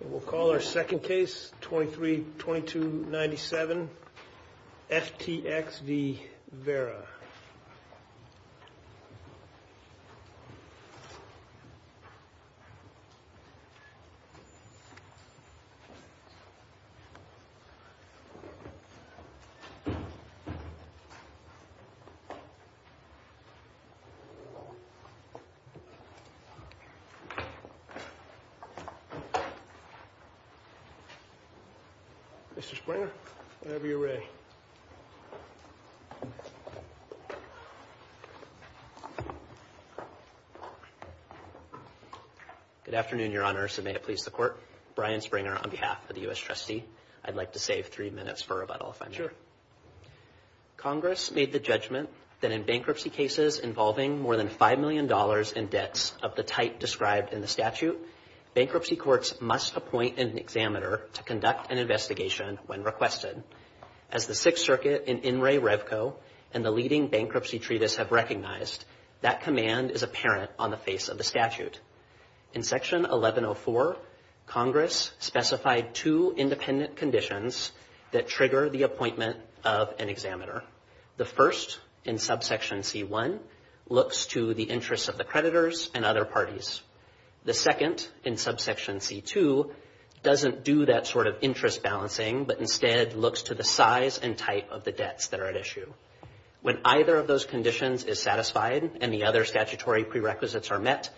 And we'll call our second case 23 22 97 FTX V Vera Mr. Springer, whenever you're ready Good afternoon, Your Honor, so may it please the court. Brian Springer on behalf of the U.S. Trustee. I'd like to save three minutes for rebuttal if I'm sure Congress made the judgment that in bankruptcy cases involving more than $5 million in debts of the type described in the statute, bankruptcy courts must appoint an examiner to conduct an investigation when requested. As the Sixth Circuit in In Re Revco and the leading bankruptcy treatise have recognized, that command is apparent on the face of the statute. In Section 1104, Congress specified two independent conditions that trigger the appointment of an examiner. The first, in Subsection C1, looks to the interests of the creditors and other parties. The second, in Subsection C2, doesn't do that sort of interest balancing, but instead looks to the size and type of the debts that are at issue. When either of those conditions is satisfied and the other statutory prerequisites are met,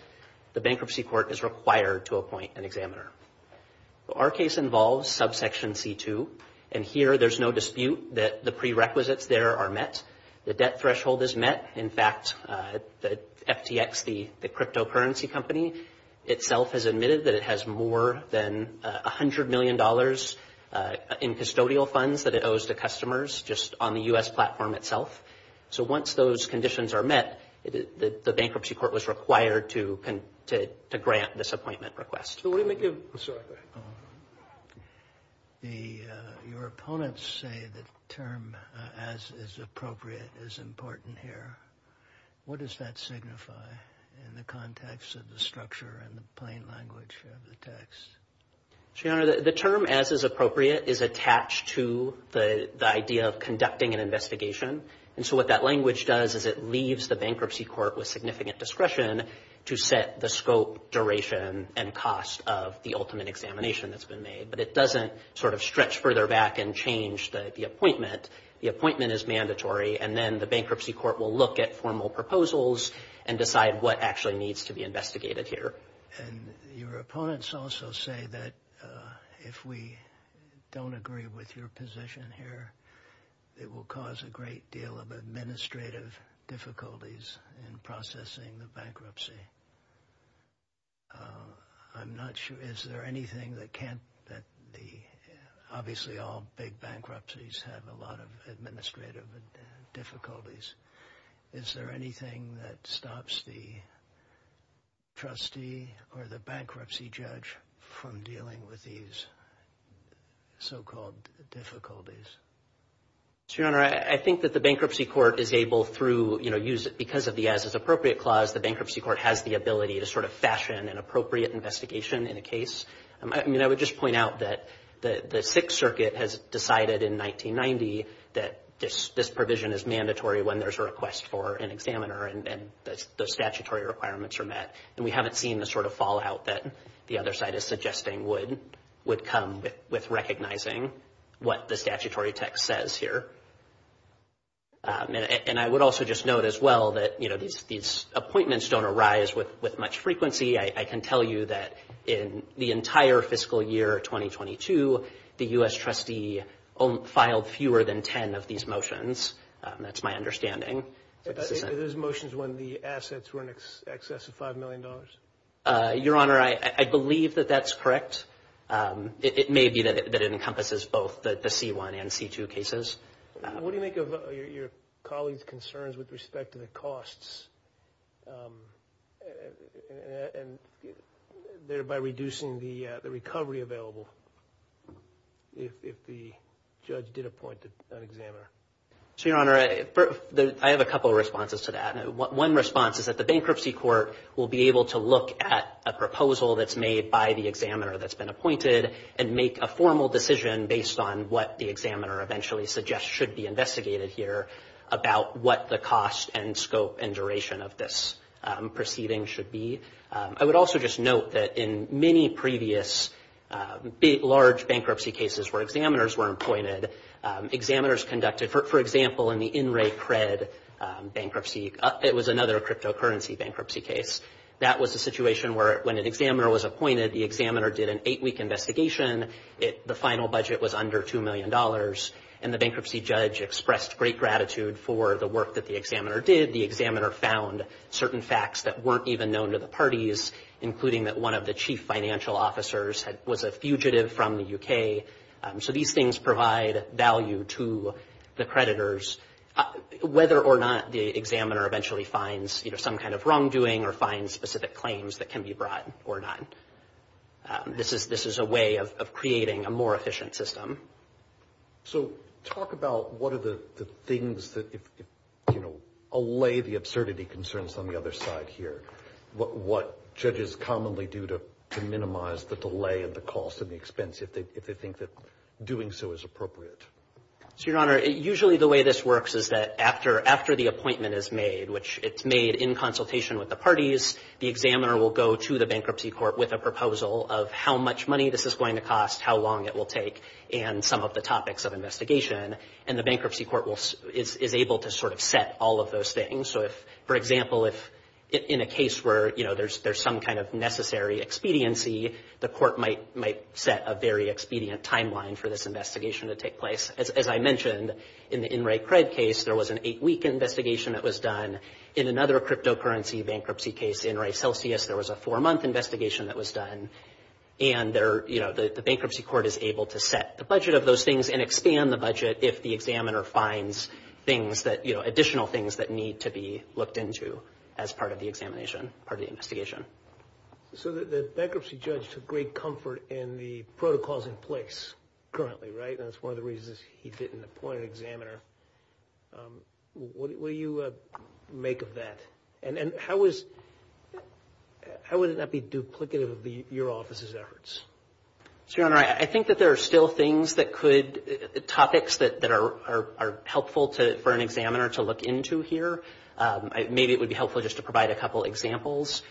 the bankruptcy court is required to appoint an examiner. Our case involves Subsection C2, and here there's no dispute that the prerequisites there are met. The debt threshold is met. In fact, the FTX, the cryptocurrency company, itself has admitted that it has more than $100 million in custodial funds that it owes to customers just on the U.S. platform itself. So once those conditions are met, the bankruptcy court was required to grant this appointment request. So what do you make of it? I'm sorry. Go ahead. Your opponents say the term, as is appropriate, is important here. What does that signify in the context of the structure and the plain language of the text? Your Honor, the term, as is appropriate, is attached to the idea of conducting an investigation. And so what that language does is it leaves the bankruptcy court with significant discretion to set the scope, duration, and cost of the ultimate examination that's been made. But it doesn't sort of stretch further back and change the appointment. The appointment is mandatory, and then the bankruptcy court will look at formal proposals and decide what actually needs to be investigated here. And your opponents also say that if we don't agree with your position here, it will cause a great deal of administrative difficulties in processing the bankruptcy. I'm not sure. Is there anything that can't, that the, obviously all big bankruptcies have a lot of administrative difficulties. Is there anything that stops the trustee or the bankruptcy judge from dealing with these so-called difficulties? Your Honor, I think that the bankruptcy court is able through, you know, use it because of the as is appropriate clause, the bankruptcy court has the ability to sort of fashion an appropriate investigation in a case. I mean, I would just point out that the Sixth Circuit has decided in 1990 that this provision is mandatory when there's a request for an examiner and the statutory requirements are met. And we haven't seen the sort of fallout that the other side is suggesting would come with recognizing what the statutory text says here. And I would also just note as well that, you know, these appointments don't arise with much frequency. I can tell you that in the entire fiscal year 2022, the U.S. trustee filed fewer than 10 of these motions. That's my understanding. Are those motions when the assets were in excess of $5 million? Your Honor, I believe that that's correct. It may be that it encompasses both the C-1 and C-2 cases. What do you make of your colleague's concerns with respect to the costs and thereby reducing the recovery available if the judge did appoint an examiner? So, Your Honor, I have a couple of responses to that. One response is that the bankruptcy court will be able to look at a proposal that's made by the examiner that's been appointed and make a formal decision based on what the examiner eventually suggests should be investigated here about what the cost and scope and duration of this proceeding should be. I would also just note that in many previous large bankruptcy cases where examiners were appointed, examiners conducted, for example, in the InReCred bankruptcy, it was another cryptocurrency bankruptcy case. That was a situation where when an examiner was appointed, the examiner did an eight-week investigation. The final budget was under $2 million, and the bankruptcy judge expressed great gratitude for the work that the examiner did. The examiner found certain facts that weren't even known to the parties, including that one of the chief financial officers was a fugitive from the U.K. So these things provide value to the creditors. Whether or not the examiner eventually finds some kind of wrongdoing or finds specific claims that can be brought or not, this is a way of creating a more efficient system. So talk about what are the things that, you know, allay the absurdity concerns on the other side here. What judges commonly do to minimize the delay of the cost and the expense if they think that doing so is appropriate? So, Your Honor, usually the way this works is that after the appointment is made, which it's made in consultation with the parties, the examiner will go to the bankruptcy court with a proposal of how much money this is going to cost, how long it will take, and some of the topics of investigation. And the bankruptcy court is able to sort of set all of those things. So if, for example, if in a case where, you know, there's some kind of necessary expediency, the court might set a very expedient timeline for this investigation to take place. As I mentioned, in the In Re Cred case, there was an eight-week investigation that was done. In another cryptocurrency bankruptcy case, In Re Celsius, there was a four-month investigation that was done. And there, you know, the bankruptcy court is able to set the budget of those things and expand the budget if the examiner finds things that, you know, additional things that need to be looked into as part of the examination, part of the investigation. So the bankruptcy judge took great comfort in the protocols in place currently, right? And that's one of the reasons he didn't appoint an examiner. What do you make of that? And how is, how would it not be duplicative of your office's efforts? Your Honor, I think that there are still things that could, topics that are helpful to, for an examiner to look into here. Maybe it would be helpful just to provide a couple examples.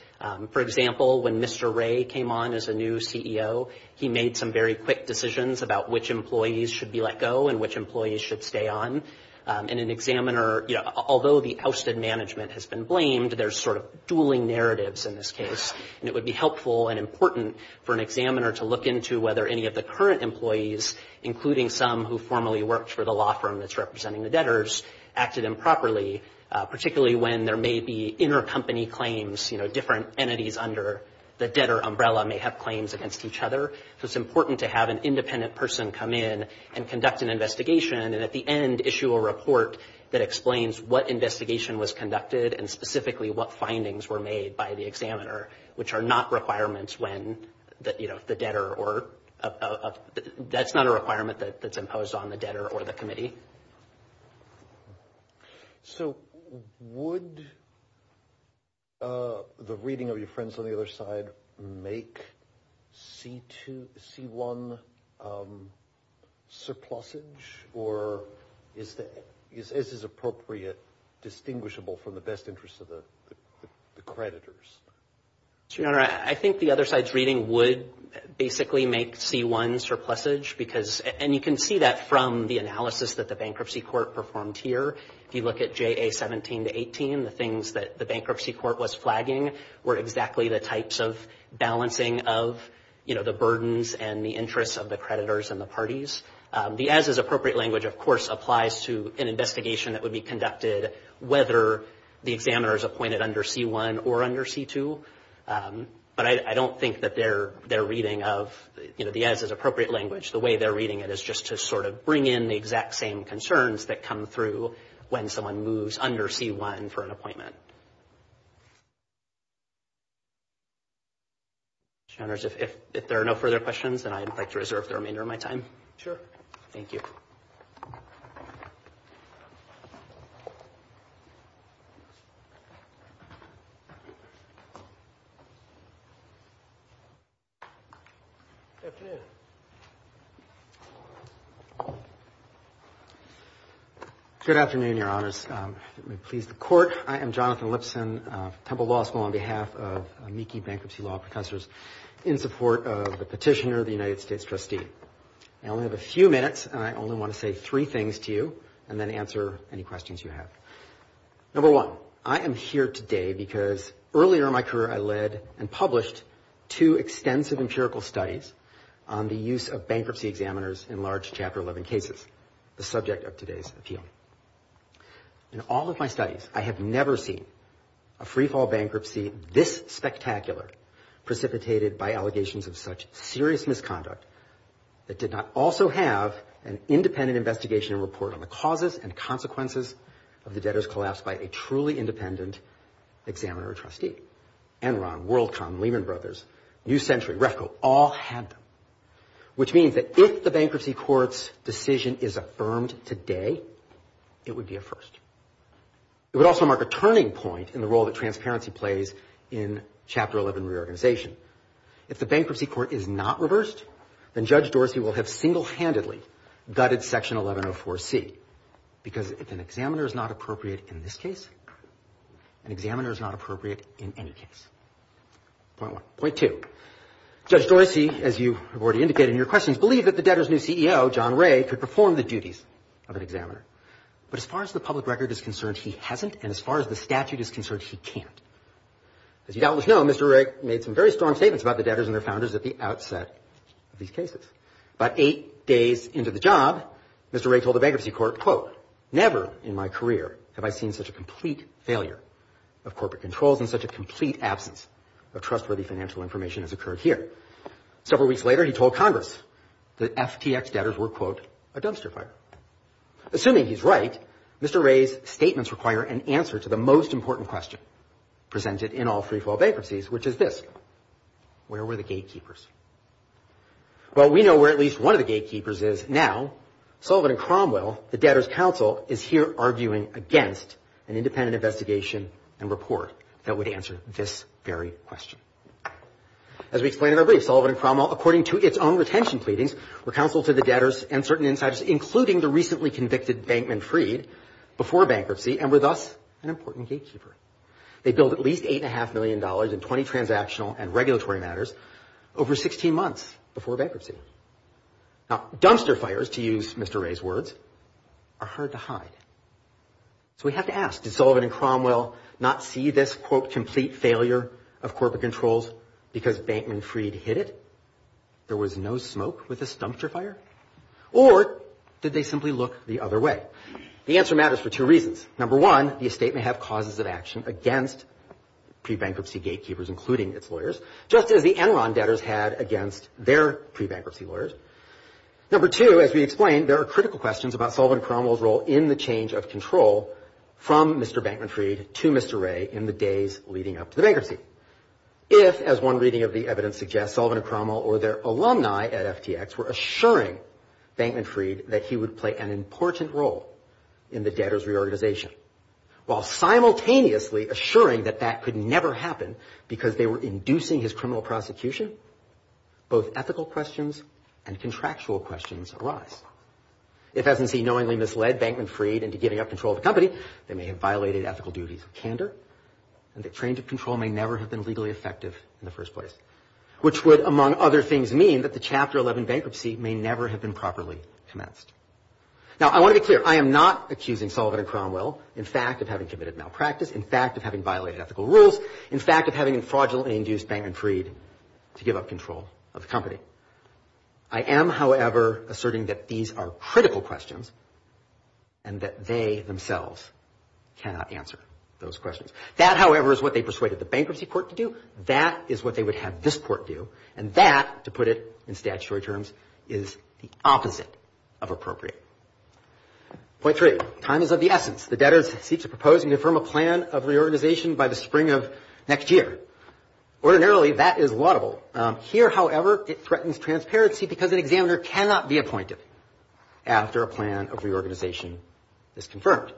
For example, when Mr. Ray came on as a new CEO, he made some very quick decisions about which employees should be let go and which employees should stay on. And an examiner, you know, although the ousted management has been blamed, there's sort of dueling narratives in this case. And it would be helpful and important for an examiner to look into whether any of the current employees, including some who formerly worked for the law firm that's representing the debtors, acted improperly, particularly when there may be intercompany claims. You know, different entities under the debtor umbrella may have claims against each other. So it's important to have an independent person come in and conduct an investigation and at the end issue a report that explains what investigation was conducted and specifically what findings were made by the examiner, which are not requirements when the debtor or, that's not a requirement that's imposed on the debtor or the committee. So would the reading of your friends on the other side make C2, C1 surplusage or is that, as is appropriate, distinguishable from the best interests of the creditors? Your Honor, I think the other side's reading would basically make C1 surplusage because, and you can see that from the analysis that the bankruptcy court performed here. If you look at JA 17 to 18, the things that the bankruptcy court was flagging were exactly the types of balancing of, you know, the burdens and the interests of the creditors and the parties. The as is appropriate language, of course, applies to an investigation that would be conducted whether the examiner is appointed under C1 or under C2. But I don't think that their reading of, you know, the as is appropriate language, the way they're reading it is just to sort of bring in the exact same concerns that come through when someone moves under C1 for an appointment. Your Honors, if there are no further questions, then I would like to reserve the remainder of my time. Sure. Thank you. Good afternoon, Your Honors. Please, the court, I am Jonathan Lipson, Temple Law School, on behalf of Meeki Bankruptcy Law Professors in support of the petitioner, the United States trustee. I only have a few minutes and I only want to say three things to you and then answer any questions you have. Number one, I am here today because earlier in my career, I led and published two examiners in large Chapter 11 cases, the subject of today's appeal. In all of my studies, I have never seen a freefall bankruptcy this spectacular precipitated by allegations of such serious misconduct that did not also have an independent investigation and report on the causes and consequences of the debtor's collapse by a truly independent examiner or trustee. Enron, WorldCom, Lehman Brothers, New Century, Refco, all had them, which means that if the bankruptcy court's decision is affirmed today, it would be a first. It would also mark a turning point in the role that transparency plays in Chapter 11 reorganization. If the bankruptcy court is not reversed, then Judge Dorsey will have single-handedly gutted Section 1104C because if an examiner is not appropriate in this case, an examiner is not appropriate in any case. Point one. Point two, Judge Dorsey, as you have already indicated in your questions, believe that the debtor's new CEO, John Ray, could perform the duties of an examiner. But as far as the public record is concerned, he hasn't. And as far as the statute is concerned, he can't. As you doubtless know, Mr. Ray made some very strong statements about the debtors and their founders at the outset of these cases. About eight days into the job, Mr. Ray told the bankruptcy court, quote, Never in my career have I seen such a complete failure of corporate controls and such a complete absence of trustworthy financial information has occurred here. Several weeks later, he told Congress that FTX debtors were, quote, a dumpster fire. Assuming he's right, Mr. Ray's statements require an answer to the most important question presented in all freefall bankruptcies, which is this, where were the gatekeepers? Well, we know where at least one of the gatekeepers is now. Sullivan and Cromwell, the debtors' counsel, is here arguing against an independent investigation and report that would answer this very question. As we explained in our brief, Sullivan and Cromwell, according to its own retention pleadings, were counsel to the debtors and certain insiders, including the recently convicted bankman, Freed, before bankruptcy and were thus an important gatekeeper. They billed at least eight and a half million dollars in 20 transactional and regulatory matters over 16 months before bankruptcy. Now, dumpster fires, to use Mr. Ray's words, are hard to hide. So we have to ask, did Sullivan and Cromwell not see this, quote, complete failure of corporate controls because Bankman Freed hid it? There was no smoke with this dumpster fire? Or did they simply look the other way? The answer matters for two reasons. Number one, the estate may have causes of action against pre-bankruptcy gatekeepers, including its lawyers, just as the Enron debtors had against their pre-bankruptcy lawyers. Number two, as we explained, there are critical questions about Sullivan and Cromwell's role in the change of control from Mr. Bankman Freed to Mr. Ray in the days leading up to the bankruptcy. If, as one reading of the evidence suggests, Sullivan and Cromwell or their alumni at FTX were assuring Bankman Freed that he would play an important role in the debtors reorganization, while simultaneously assuring that that could never happen because they were inducing his criminal prosecution, both ethical questions and contractual questions arise. If, as in C, knowingly misled Bankman Freed into giving up control of the company, they may have violated ethical duties of candor and the change of control may never have been legally effective in the first place, which would, among other things, mean that the Chapter 11 bankruptcy may never have been properly commenced. Now, I want to be clear. I am not accusing Sullivan and Cromwell, in fact, of having committed malpractice, in fact, of having violated ethical rules, in fact, of having fraudulently induced Bankman Freed to give up control of the company. I am, however, asserting that these are critical questions. And that they themselves cannot answer those questions. That, however, is what they persuaded the bankruptcy court to do. That is what they would have this court do. And that, to put it in statutory terms, is the opposite of appropriate. Point three, time is of the essence. The debtors seek to propose and affirm a plan of reorganization by the spring of next year. Ordinarily, that is laudable. Here, however, it threatens transparency because an examiner cannot be appointed after a plan of reorganization is confirmed.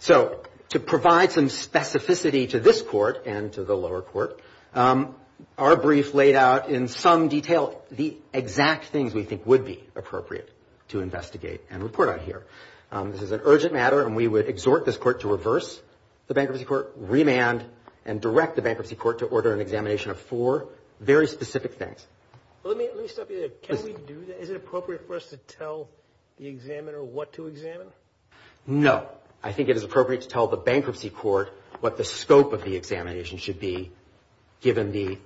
So, to provide some specificity to this court and to the lower court, our brief laid out in some detail the exact things we think would be appropriate to investigate and report on here. This is an urgent matter and we would exhort this court to reverse the bankruptcy court, remand and direct the bankruptcy court to order an examination of four very specific things. Let me stop you there. Can we do that? No. I think it is appropriate to tell the bankruptcy court what the scope of the examination should be, given the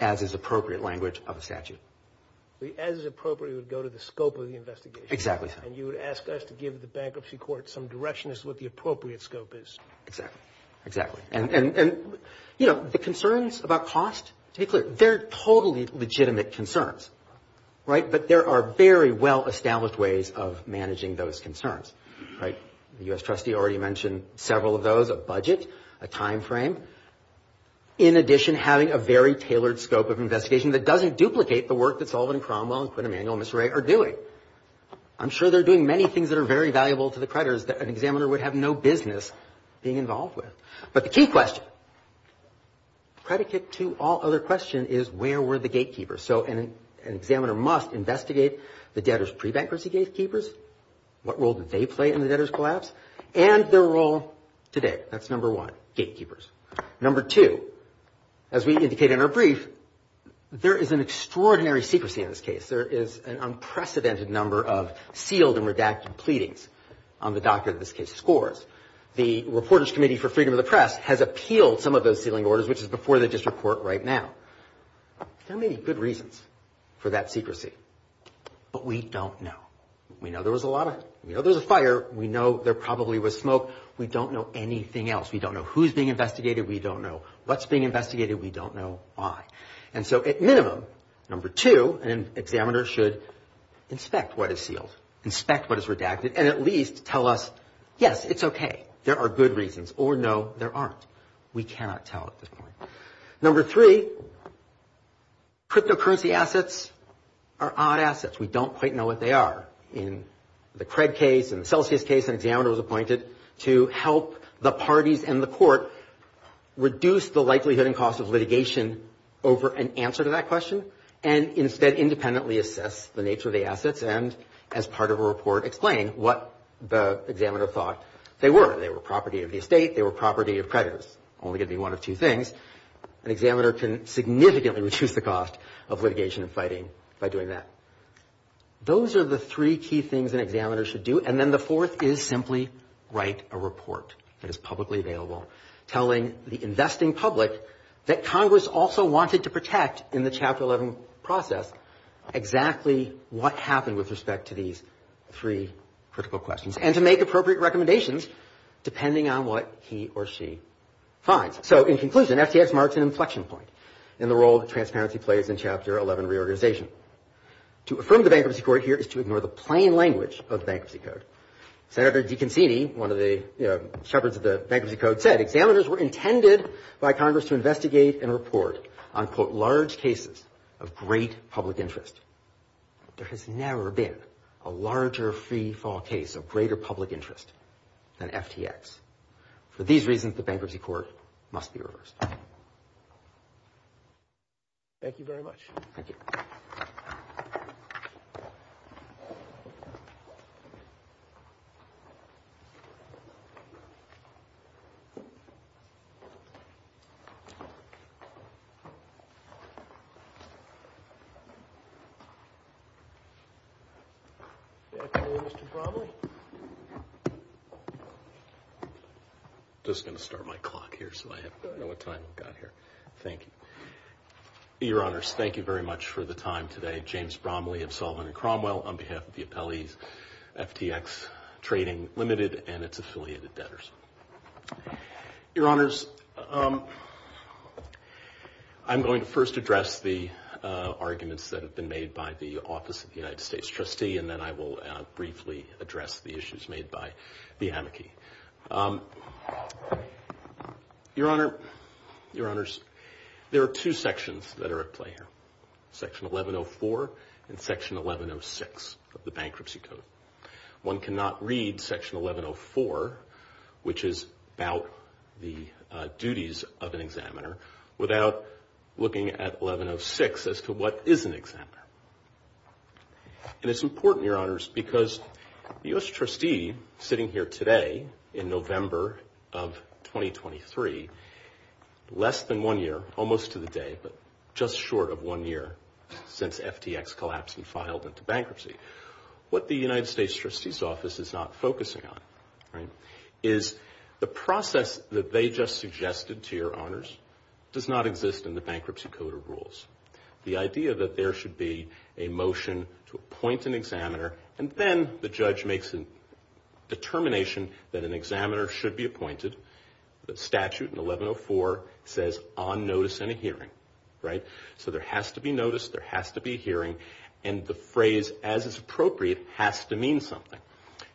as is appropriate language of a statute. As is appropriate, it would go to the scope of the investigation. Exactly. And you would ask us to give the bankruptcy court some direction as to what the appropriate scope is. Exactly. Exactly. And, you know, the concerns about cost, to be clear, they're totally legitimate concerns. Right. But there are very well established ways of managing those concerns. Right. The U.S. trustee already mentioned several of those, a budget, a time frame. In addition, having a very tailored scope of investigation that doesn't duplicate the work that Sullivan and Cromwell and Quinn Emanuel and Mr. Ray are doing. I'm sure they're doing many things that are very valuable to the creditors that an examiner would have no business being involved with. But the key question, predicate to all other questions, is where were the gatekeepers? So an examiner must investigate the debtors' pre-bankruptcy gatekeepers. What role did they play in the debtors' collapse and their role today? That's number one, gatekeepers. Number two, as we indicate in our brief, there is an extraordinary secrecy in this case. There is an unprecedented number of sealed and redacted pleadings on the doctrine of this case scores. The Reporters Committee for Freedom of the Press has appealed some of those sealing orders, which is before the district court right now. There may be good reasons for that secrecy, but we don't know. We know there was a lot of, you know, there's a fire. We know there probably was smoke. We don't know anything else. We don't know who's being investigated. We don't know what's being investigated. We don't know why. And so at minimum, number two, an examiner should inspect what is sealed, inspect what is redacted and at least tell us, yes, it's OK, there are good reasons or no, there aren't. We cannot tell at this point. Number three, cryptocurrency assets are odd assets. We don't quite know what they are. In the CRED case and the Celsius case, an examiner was appointed to help the parties and the court reduce the likelihood and cost of litigation over an answer to that question and instead independently assess the nature of the assets. And as part of a report, explain what the examiner thought they were. They were property of the estate. They were property of creditors. Only going to be one of two things. An examiner can significantly reduce the cost of litigation and fighting by doing that. Those are the three key things an examiner should do. And then the fourth is simply write a report that is publicly available telling the investing public that Congress also wanted to protect in the Chapter 11 process exactly what happened with respect to these three critical questions and to make appropriate recommendations depending on what he or she finds. So in conclusion, FTX marks an inflection point in the role that transparency plays in Chapter 11 reorganization. To affirm the Bankruptcy Court here is to ignore the plain language of Bankruptcy Code. Senator DeConcini, one of the shepherds of the Bankruptcy Code, said examiners were intended by Congress to investigate and report on, quote, large cases of great public interest. There has never been a larger free fall case of greater public interest than FTX. For these reasons, the Bankruptcy Court must be reversed. Thank you very much. Thank you. I'm just going to start my clock here so I know what time I've got here. Thank you, Your Honors. Thank you very much for the time today. James Bromley of Solvent & Cromwell on behalf of the appellees, FTX Trading Limited and its affiliated debtors. Your Honors, I'm going to first address the arguments that have been made by the Office of the United States Trustee, and then I will briefly address the issues made by the amici. Your Honor, Your Honors, there are two sections that are at play here, Section 1104 and Section 1106 of the Bankruptcy Code. One cannot read Section 1104, which is about the duties of an examiner, without looking at 1106 as to what is an examiner. And it's important, Your Honors, because the U.S. Trustee sitting here today in November of 2023, less than one year, almost to the day, but just short of one year since FTX collapsed and filed into bankruptcy, what the United States Trustee's Office is not focusing on is the process that they just suggested to Your Honors does not exist in the Bankruptcy Code or rules. The idea that there should be a motion to appoint an examiner, and then the judge makes a determination that an examiner should be appointed. The statute in 1104 says, on notice and a hearing, right? So there has to be notice, there has to be a hearing, and the phrase, as is appropriate, has to mean something.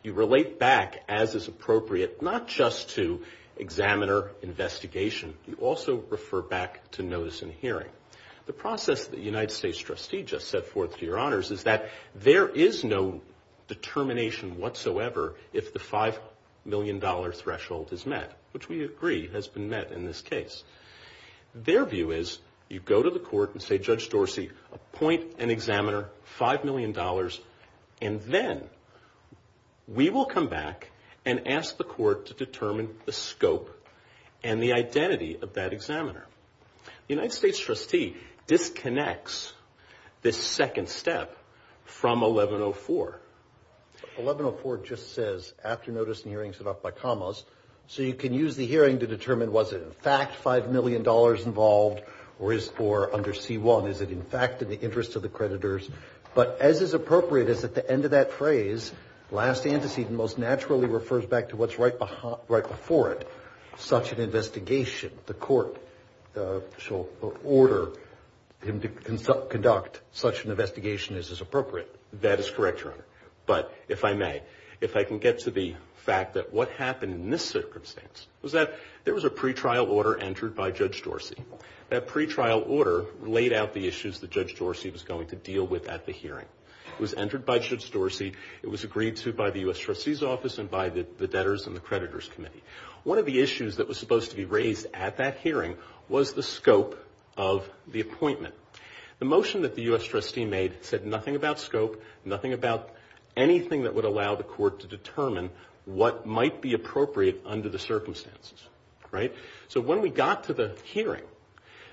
You relate back, as is appropriate, not just to examiner investigation, you also refer back to notice and hearing. The process that the United States Trustee just set forth to Your Honors is that there is no determination whatsoever if the $5 million threshold is met, which we agree has been met in this case. Their view is you go to the court and say, Judge Dorsey, appoint an examiner, $5 million, and then we will come back and ask the court to determine the scope and the identity of that examiner. The United States Trustee disconnects this second step from 1104. 1104 just says, after notice and hearing, set off by commas, so you can use the hearing to determine, was it in fact $5 million involved, or under C-1, is it in fact in the interest of the creditors? But as is appropriate, is at the end of that phrase, last antecedent, most naturally refers back to what's right before it, such an investigation. The court shall order him to conduct such an investigation as is appropriate. That is correct, Your Honor. But if I may, if I can get to the fact that what happened in this circumstance was that there was a pretrial order entered by Judge Dorsey. That pretrial order laid out the issues that Judge Dorsey was going to deal with at the hearing. It was entered by Judge Dorsey. It was agreed to by the U.S. Trustee's office and by the debtors and the creditors committee. One of the issues that was supposed to be raised at that hearing was the scope of the appointment. The motion that the U.S. Trustee made said nothing about scope, nothing about anything that would allow the court to determine what might be appropriate under the circumstances. Right? So when we got to the hearing,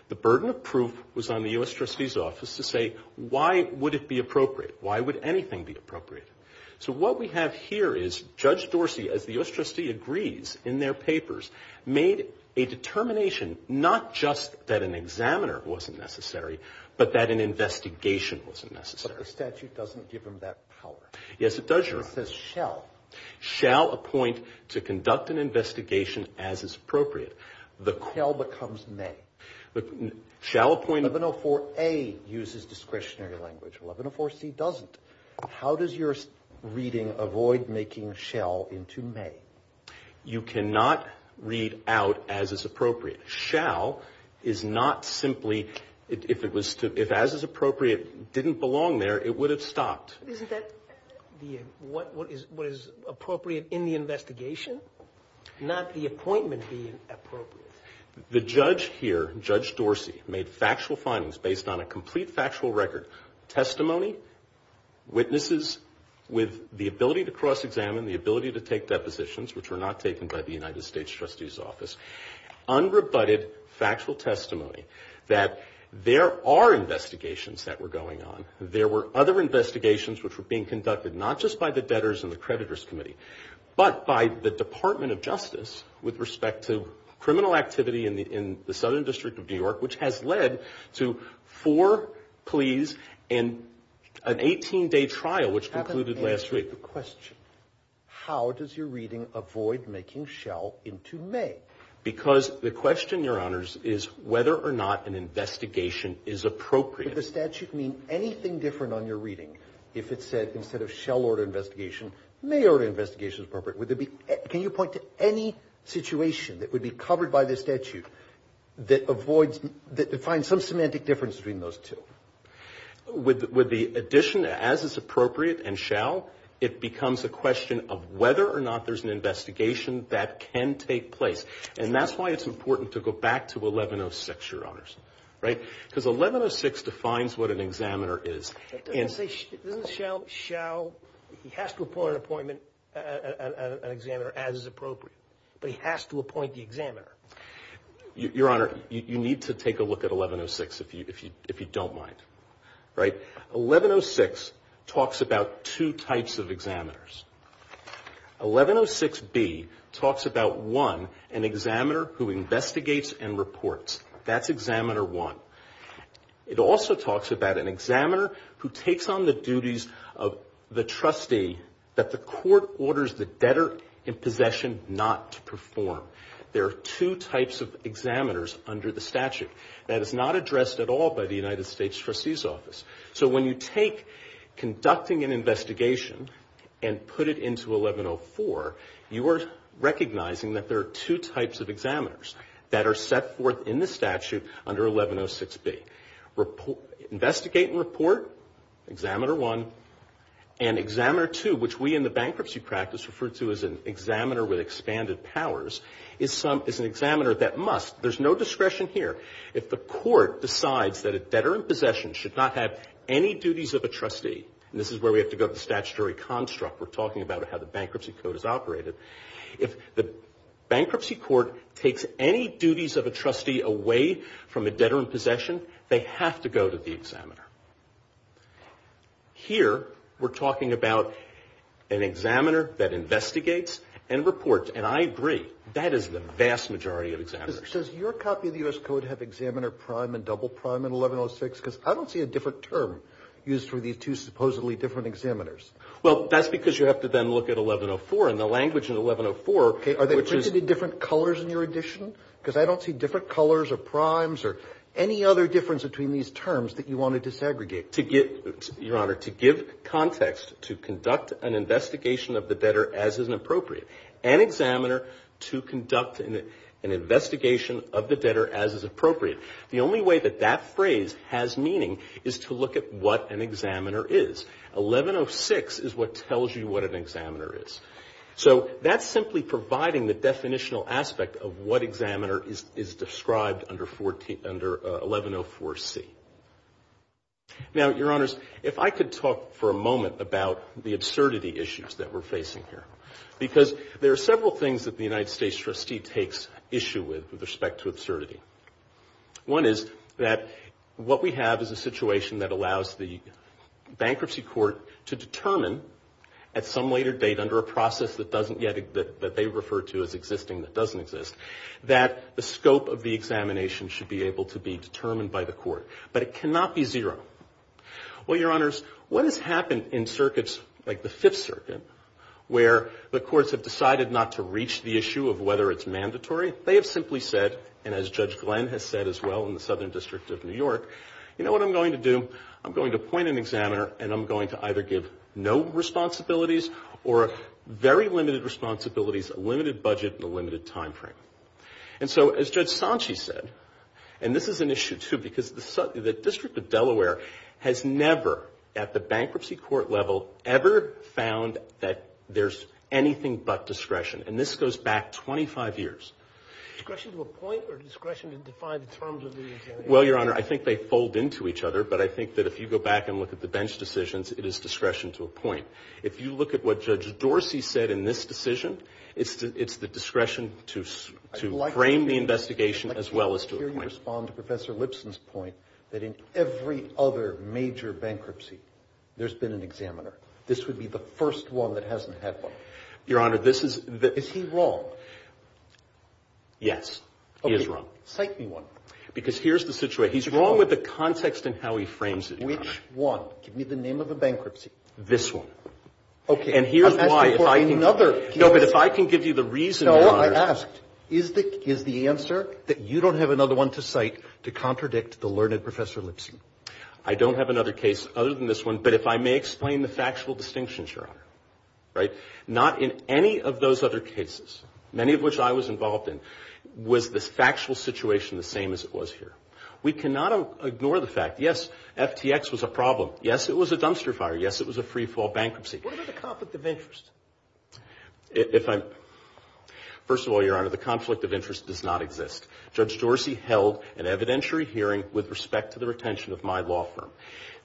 the burden of proof was on the U.S. Trustee's office to say, why would it be appropriate? Why would anything be appropriate? So what we have here is Judge Dorsey, as the U.S. Trustee agrees in their papers, made a determination not just that an examiner wasn't necessary, but that an investigation wasn't necessary. But the statute doesn't give him that power. Yes, it does, Your Honor. It says shall. Shall appoint to conduct an investigation as is appropriate. The tell becomes may. Shall appoint. 1104A uses discretionary language. 1104C doesn't. How does your reading avoid making shall into may? You cannot read out as is appropriate. Shall is not simply, if as is appropriate didn't belong there, it would have stopped. Isn't that what is appropriate in the investigation? Not the appointment being appropriate. The judge here, Judge Dorsey, made factual findings based on a complete factual record. Testimony, witnesses with the ability to cross-examine, the ability to take depositions, which were not taken by the United States Trustee's office, unrebutted factual testimony that there are investigations that were going on. There were other investigations which were being conducted, not just by the debtors and the creditors committee, but by the Department of Justice with respect to criminal and an 18-day trial which concluded last week. I have an answer to the question. How does your reading avoid making shall into may? Because the question, Your Honors, is whether or not an investigation is appropriate. Would the statute mean anything different on your reading if it said instead of shall order investigation, may order investigation is appropriate? Would there be, can you point to any situation that would be covered by the statute that avoids, that defines some semantic difference between those two? With the addition, as is appropriate and shall, it becomes a question of whether or not there's an investigation that can take place. And that's why it's important to go back to 1106, Your Honors. Right? Because 1106 defines what an examiner is. And say, doesn't shall, shall, he has to appoint an appointment, an examiner as is appropriate, but he has to appoint the examiner. Your Honor, you need to take a look at 1106 if you don't mind. Right? 1106 talks about two types of examiners. 1106B talks about, one, an examiner who investigates and reports. That's examiner one. It also talks about an examiner who takes on the duties of the trustee that the court orders the debtor in possession not to perform. There are two types of examiners under the statute. That is not addressed at all by the United States Trustee's Office. So when you take conducting an investigation and put it into 1104, you are recognizing that there are two types of examiners that are set forth in the statute under 1106B, investigate and report, examiner one, and examiner two, which we in the bankruptcy practice refer to as an examiner with expanded powers, is an examiner that must, there's no discretion here, if the court decides that a debtor in possession should not have any duties of a trustee, and this is where we have to go to the statutory construct, we're talking about how the bankruptcy code is operated, if the bankruptcy court takes any duties of a trustee away from a debtor in possession, they have to go to the examiner. Here, we're talking about an examiner that investigates and reports, and I agree, that is the vast majority of examiners. Your Honor, does your copy of the U.S. Code have examiner prime and double prime in 1106? Because I don't see a different term used for these two supposedly different examiners. Well, that's because you have to then look at 1104, and the language in 1104, which is. Okay, are they printed in different colors in your edition? Because I don't see different colors or primes or any other difference between these terms that you want to disaggregate. To get, Your Honor, to give context to conduct an investigation of the debtor as is appropriate, an examiner to conduct an investigation of the debtor as is appropriate. The only way that that phrase has meaning is to look at what an examiner is. 1106 is what tells you what an examiner is. So, that's simply providing the definitional aspect of what examiner is described under 1104C. Now, Your Honors, if I could talk for a moment about the absurdity issues that we're facing here, because there are several things that the United States trustee takes issue with, with respect to absurdity. One is that what we have is a situation that allows the bankruptcy court to determine at some later date under a process that doesn't yet, that they refer to as existing that doesn't exist, that the scope of the examination should be able to be determined by the court, but it cannot be zero. Well, Your Honors, what has happened in circuits like the Fifth Circuit, where the courts have decided not to reach the issue of whether it's mandatory? They have simply said, and as Judge Glenn has said as well in the Southern District of New York, you know what I'm going to do? I'm going to appoint an examiner, and I'm going to either give no responsibilities or very limited responsibilities, a limited budget, and a limited time frame. And so, as Judge Sanchi said, and this is an issue, too, because the District of Delaware has never, at the bankruptcy court level, ever found that there's anything but discretion. And this goes back 25 years. Discretion to appoint or discretion to define the terms of the examination? Well, Your Honor, I think they fold into each other, but I think that if you go back and look at the bench decisions, it is discretion to appoint. If you look at what Judge Dorsey said in this decision, it's the discretion to frame the investigation as well as to appoint. I hear you respond to Professor Lipson's point that in every other major bankruptcy, there's been an examiner. This would be the first one that hasn't had one. Your Honor, this is the Is he wrong? Yes, he is wrong. Cite me one. Because here's the situation. He's wrong with the context and how he frames it, Your Honor. Which one? Give me the name of the bankruptcy. This one. Okay. And here's why, if I can No, but if I can give you the reason, Your Honor No, I asked. Is the answer that you don't have another one to cite to contradict the learned Professor Lipson? I don't have another case other than this one, but if I may explain the factual distinctions, Your Honor, right? Not in any of those other cases, many of which I was involved in, was this factual situation the same as it was here. We cannot ignore the fact, yes, FTX was a problem. Yes, it was a dumpster fire. Yes, it was a free fall bankruptcy. What about the conflict of interest? If I'm First of all, Your Honor, the conflict of interest does not exist. Judge Dorsey held an evidentiary hearing with respect to the retention of my law firm.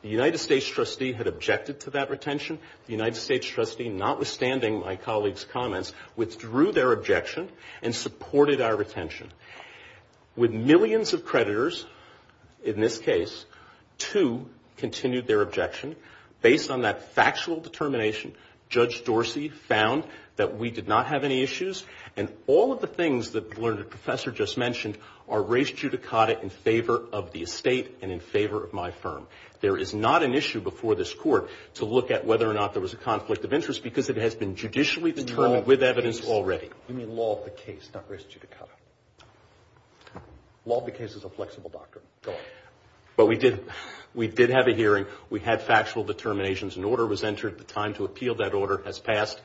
The United States trustee had objected to that retention. The United States trustee, notwithstanding my colleague's comments, withdrew their objection and supported our retention. With millions of creditors, in this case, two continued their objection. Based on that factual determination, Judge Dorsey found that we did not have any issues. And all of the things that the learned Professor just mentioned are res judicata in favor of the estate and in favor of my firm. There is not an issue before this court to look at whether or not there was a conflict of interest because it has been judicially determined with evidence already. You mean law of the case, not res judicata. Law of the case is a flexible doctrine. But we did have a hearing. We had factual determinations. An order was entered at the time to appeal. That order has passed.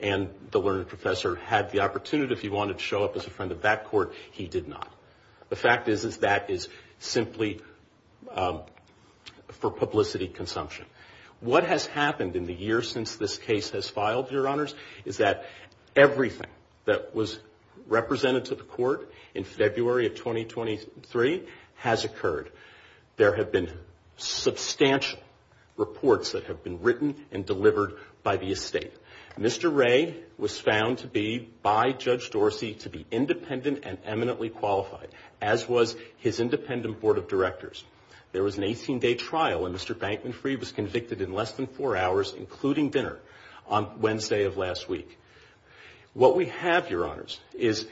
And the learned Professor had the opportunity, if he wanted to show up as a friend of that court, he did not. The fact is, is that is simply for publicity consumption. What has happened in the years since this case has filed, Your Honors, is that everything that was represented to the court in February of 2023 has occurred. There have been substantial reports that have been written and delivered by the estate. Mr. Ray was found to be, by Judge Dorsey, to be independent and eminently qualified, as was his independent board of directors. There was an 18-day trial, and Mr. Bankman Freeh was convicted in less than four hours, including dinner, on Wednesday of last week. What we have, Your Honors, is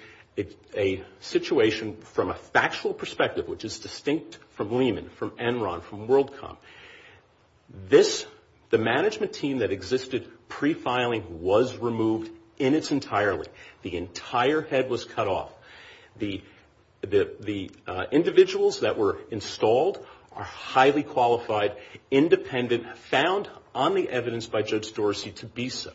a situation from a factual perspective, which is distinct from Lehman, from Enron, from WorldCom. This, the management team that existed pre-filing, was removed in its entirely. The entire head was cut off. The individuals that were installed are highly qualified, independent, found on the evidence by Judge Dorsey to be so.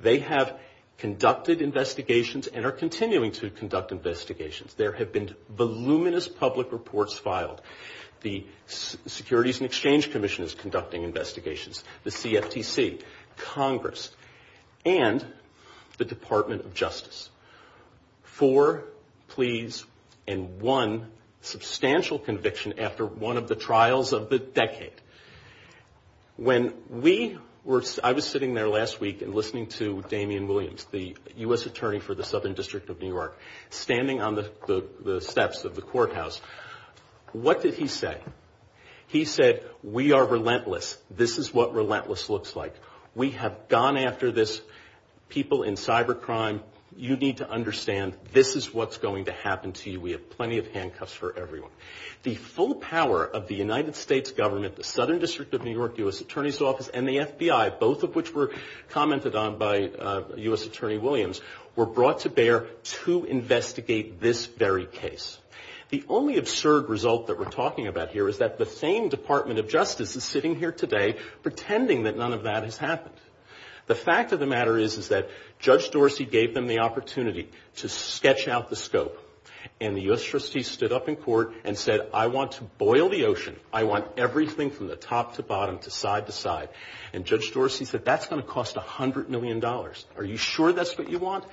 They have conducted investigations and are continuing to conduct investigations. There have been voluminous public reports filed. The Securities and Exchange Commission is conducting investigations, the CFTC, Congress, and the Department of Justice. Four pleas and one substantial conviction after one of the trials of the decade. When we were, I was sitting there last week and listening to Damian Williams, the U.S. Attorney for the Southern District of New York, standing on the steps of the courthouse, what did he say? He said, we are relentless. This is what relentless looks like. We have gone after this people in cybercrime. You need to understand, this is what's going to happen to you. We have plenty of handcuffs for everyone. The full power of the United States government, the Southern District of New York, the U.S. Attorney's Office, and the FBI, both of which were commented on by U.S. Attorney Williams, were brought to bear to investigate this very case. The only absurd result that we're talking about here is that the same Department of Justice is sitting here today pretending that none of that has happened. The fact of the matter is, is that Judge Dorsey gave them the opportunity to sketch out the scope. And the U.S. Trustee stood up in court and said, I want to boil the ocean. I want everything from the top to bottom to side to side. And Judge Dorsey said, that's going to cost $100 million. Are you sure that's what you want?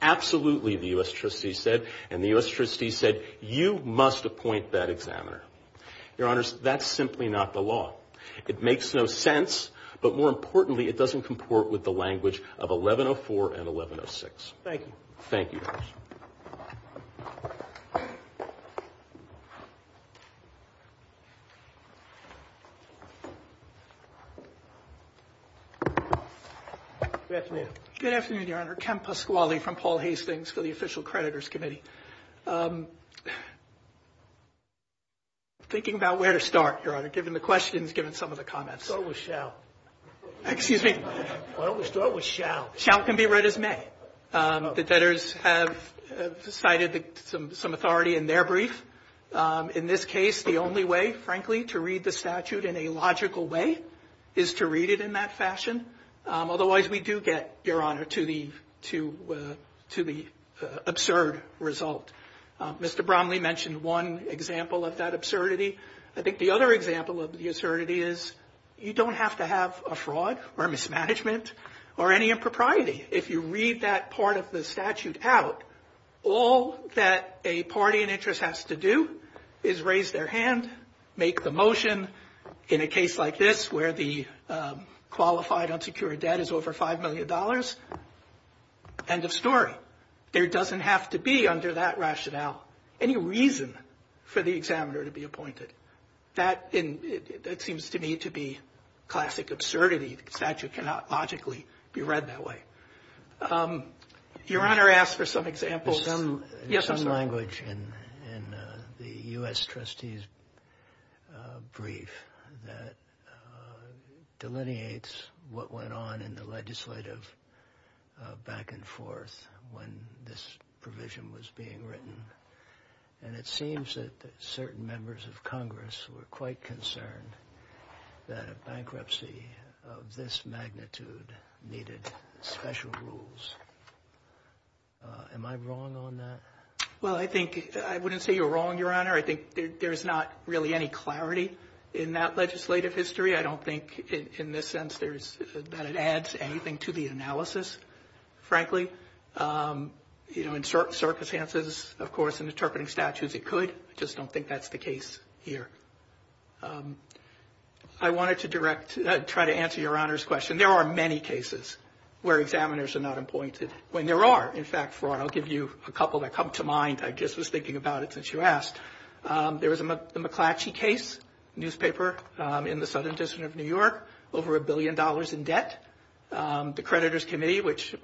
Absolutely, the U.S. Trustee said. And the U.S. Trustee said, you must appoint that examiner. Your Honors, that's simply not the law. It makes no sense. But more importantly, it doesn't comport with the language of 1104 and 1106. Thank you. Thank you. Good afternoon. Good afternoon, Your Honor. Ken Pasquale from Paul Hastings for the Official Creditors Committee. Thinking about where to start, Your Honor, given the questions, given some of the comments. Start with shall. Excuse me? Why don't we start with shall? Shall can be read as may. The debtors have cited some authority in their brief. In this case, the only way, frankly, to read the statute in a logical way is to read it in that fashion. Otherwise, we do get, Your Honor, to the absurd result. Mr. Bromley mentioned one example of that absurdity. I think the other example of the absurdity is you don't have to have a fraud or mismanagement or any impropriety. If you read that part of the statute out, all that a party in interest has to do is raise their hand, make the motion. In a case like this, where the qualified unsecured debt is over $5 million, end of story. There doesn't have to be, under that rationale, any reason for the examiner to be appointed. That seems to me to be classic absurdity. The statute cannot logically be read that way. Your Honor asked for some examples. There's some language in the U.S. trustee's brief that delineates what went on in the legislative back and forth when this provision was being written. And it seems that certain members of Congress were quite concerned that a bankruptcy of this magnitude needed special rules. Am I wrong on that? Well, I think I wouldn't say you're wrong, Your Honor. I think there's not really any clarity in that legislative history. I don't think in this sense that it adds anything to the analysis, frankly. You know, in certain circumstances, of course, in interpreting statutes, it could. I just don't think that's the case here. I wanted to try to answer Your Honor's question. There are many cases where examiners are not appointed, when there are. In fact, I'll give you a couple that come to mind. I just was thinking about it since you asked. There was the McClatchy case, newspaper, in the southern district of New York, over a billion dollars in debt. The creditors committee, which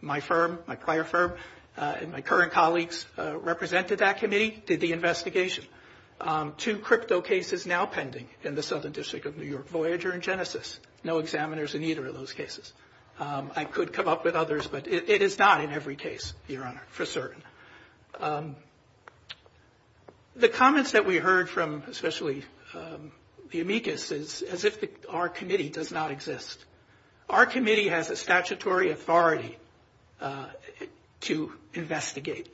my firm, my prior firm, and my current colleagues represented that committee, did the investigation. Two crypto cases now pending in the southern district of New York, Voyager and Genesis. No examiners in either of those cases. I could come up with others, but it is not in every case, Your Honor, for certain. The comments that we heard from especially the amicus is as if our committee does not exist. Our committee has a statutory authority to investigate.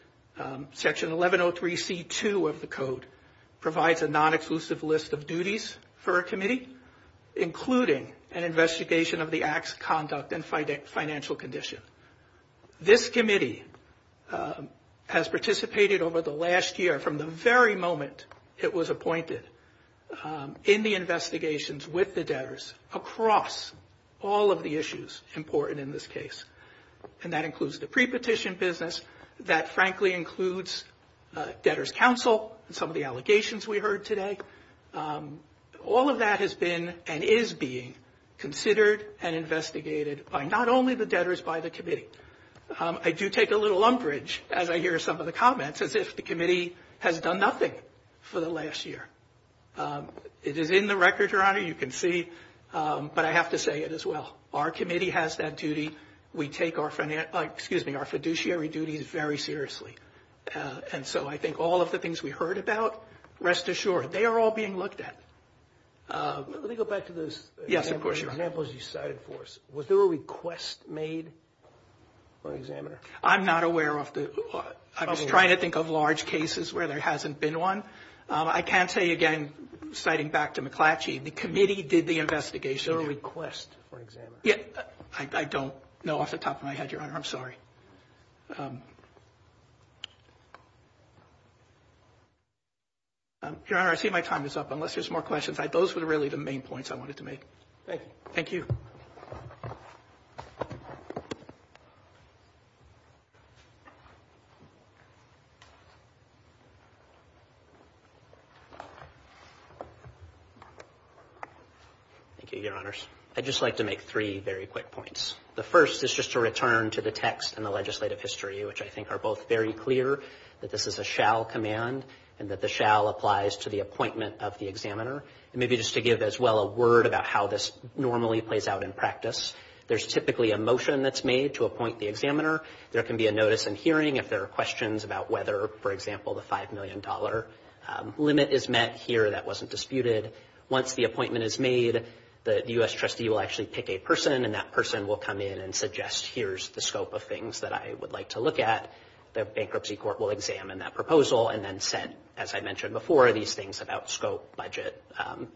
Section 1103C2 of the code provides a non-exclusive list of duties for a committee, including an investigation of the act's conduct and financial condition. This committee has participated over the last year, from the very moment it was appointed, in the investigations with the debtors across all of the issues important in this case. And that includes the pre-petition business. That, frankly, includes debtors counsel and some of the allegations we heard today. All of that has been and is being considered and investigated by not only the debtors, by the committee. I do take a little umbrage as I hear some of the comments as if the committee has done nothing for the last year. It is in the record, Your Honor, you can see, but I have to say it as well. Our committee has that duty. We take our financial, excuse me, our fiduciary duties very seriously. And so I think all of the things we heard about, rest assured, they are all being looked at. Let me go back to those examples you cited for us. Was there a request made by an examiner? I'm not aware of the, I was trying to think of large cases where there hasn't been one. I can tell you again, citing back to McClatchy, the committee did the investigation. Was there a request for an examiner? Yeah, I don't know off the top of my head, Your Honor, I'm sorry. Your Honor, I see my time is up unless there's more questions. Those were really the main points I wanted to make. Thank you. Thank you. Thank you, Your Honors. I'd just like to make three very quick points. The first is just to return to the text and the legislative history, which I think are both very clear that this is a shall command and that the shall applies to the appointment of the examiner. And maybe just to give as well a word about how this normally plays out in practice. There's typically a motion that's made to appoint the examiner. There can be a notice in hearing if there are questions about whether, for example, the $5 million limit is met here that wasn't disputed. Once the appointment is made, the U.S. trustee will actually pick a person and that person will come in and suggest, here's the scope of things that I would like to look at. The bankruptcy court will examine that proposal and then set, as I mentioned before, these things about scope, budget,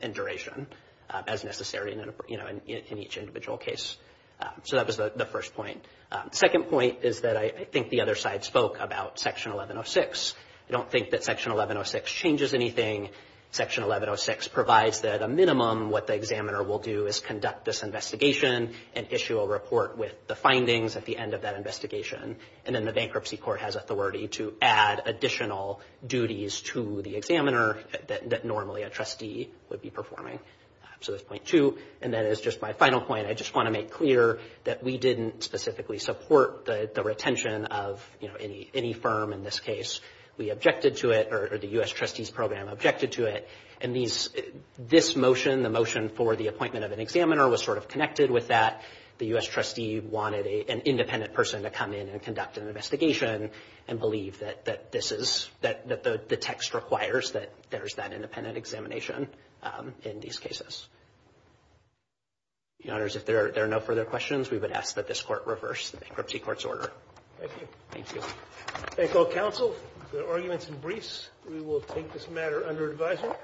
and duration as necessary in each individual case. So that was the first point. Second point is that I think the other side spoke about Section 1106. I don't think that Section 1106 changes anything. Section 1106 provides that a minimum what the examiner will do is conduct this investigation and issue a report with the findings at the end of that investigation. And then the bankruptcy court has authority to add additional duties to the examiner that normally a trustee would be performing. So that's point two. And that is just my final point. I just want to make clear that we didn't specifically support the retention of any firm in this case. We objected to it, or the U.S. trustee's program objected to it. And this motion, the motion for the appointment of an examiner was sort of connected with that. The U.S. trustee wanted an independent person to come in and conduct an investigation and believe that the text requires that there's that independent examination in these cases. Your Honors, if there are no further questions, we would ask that this court reverse the bankruptcy court's order. Thank you. Thank you. Thank all counsel. The argument's in briefs. We will take this matter under advisory.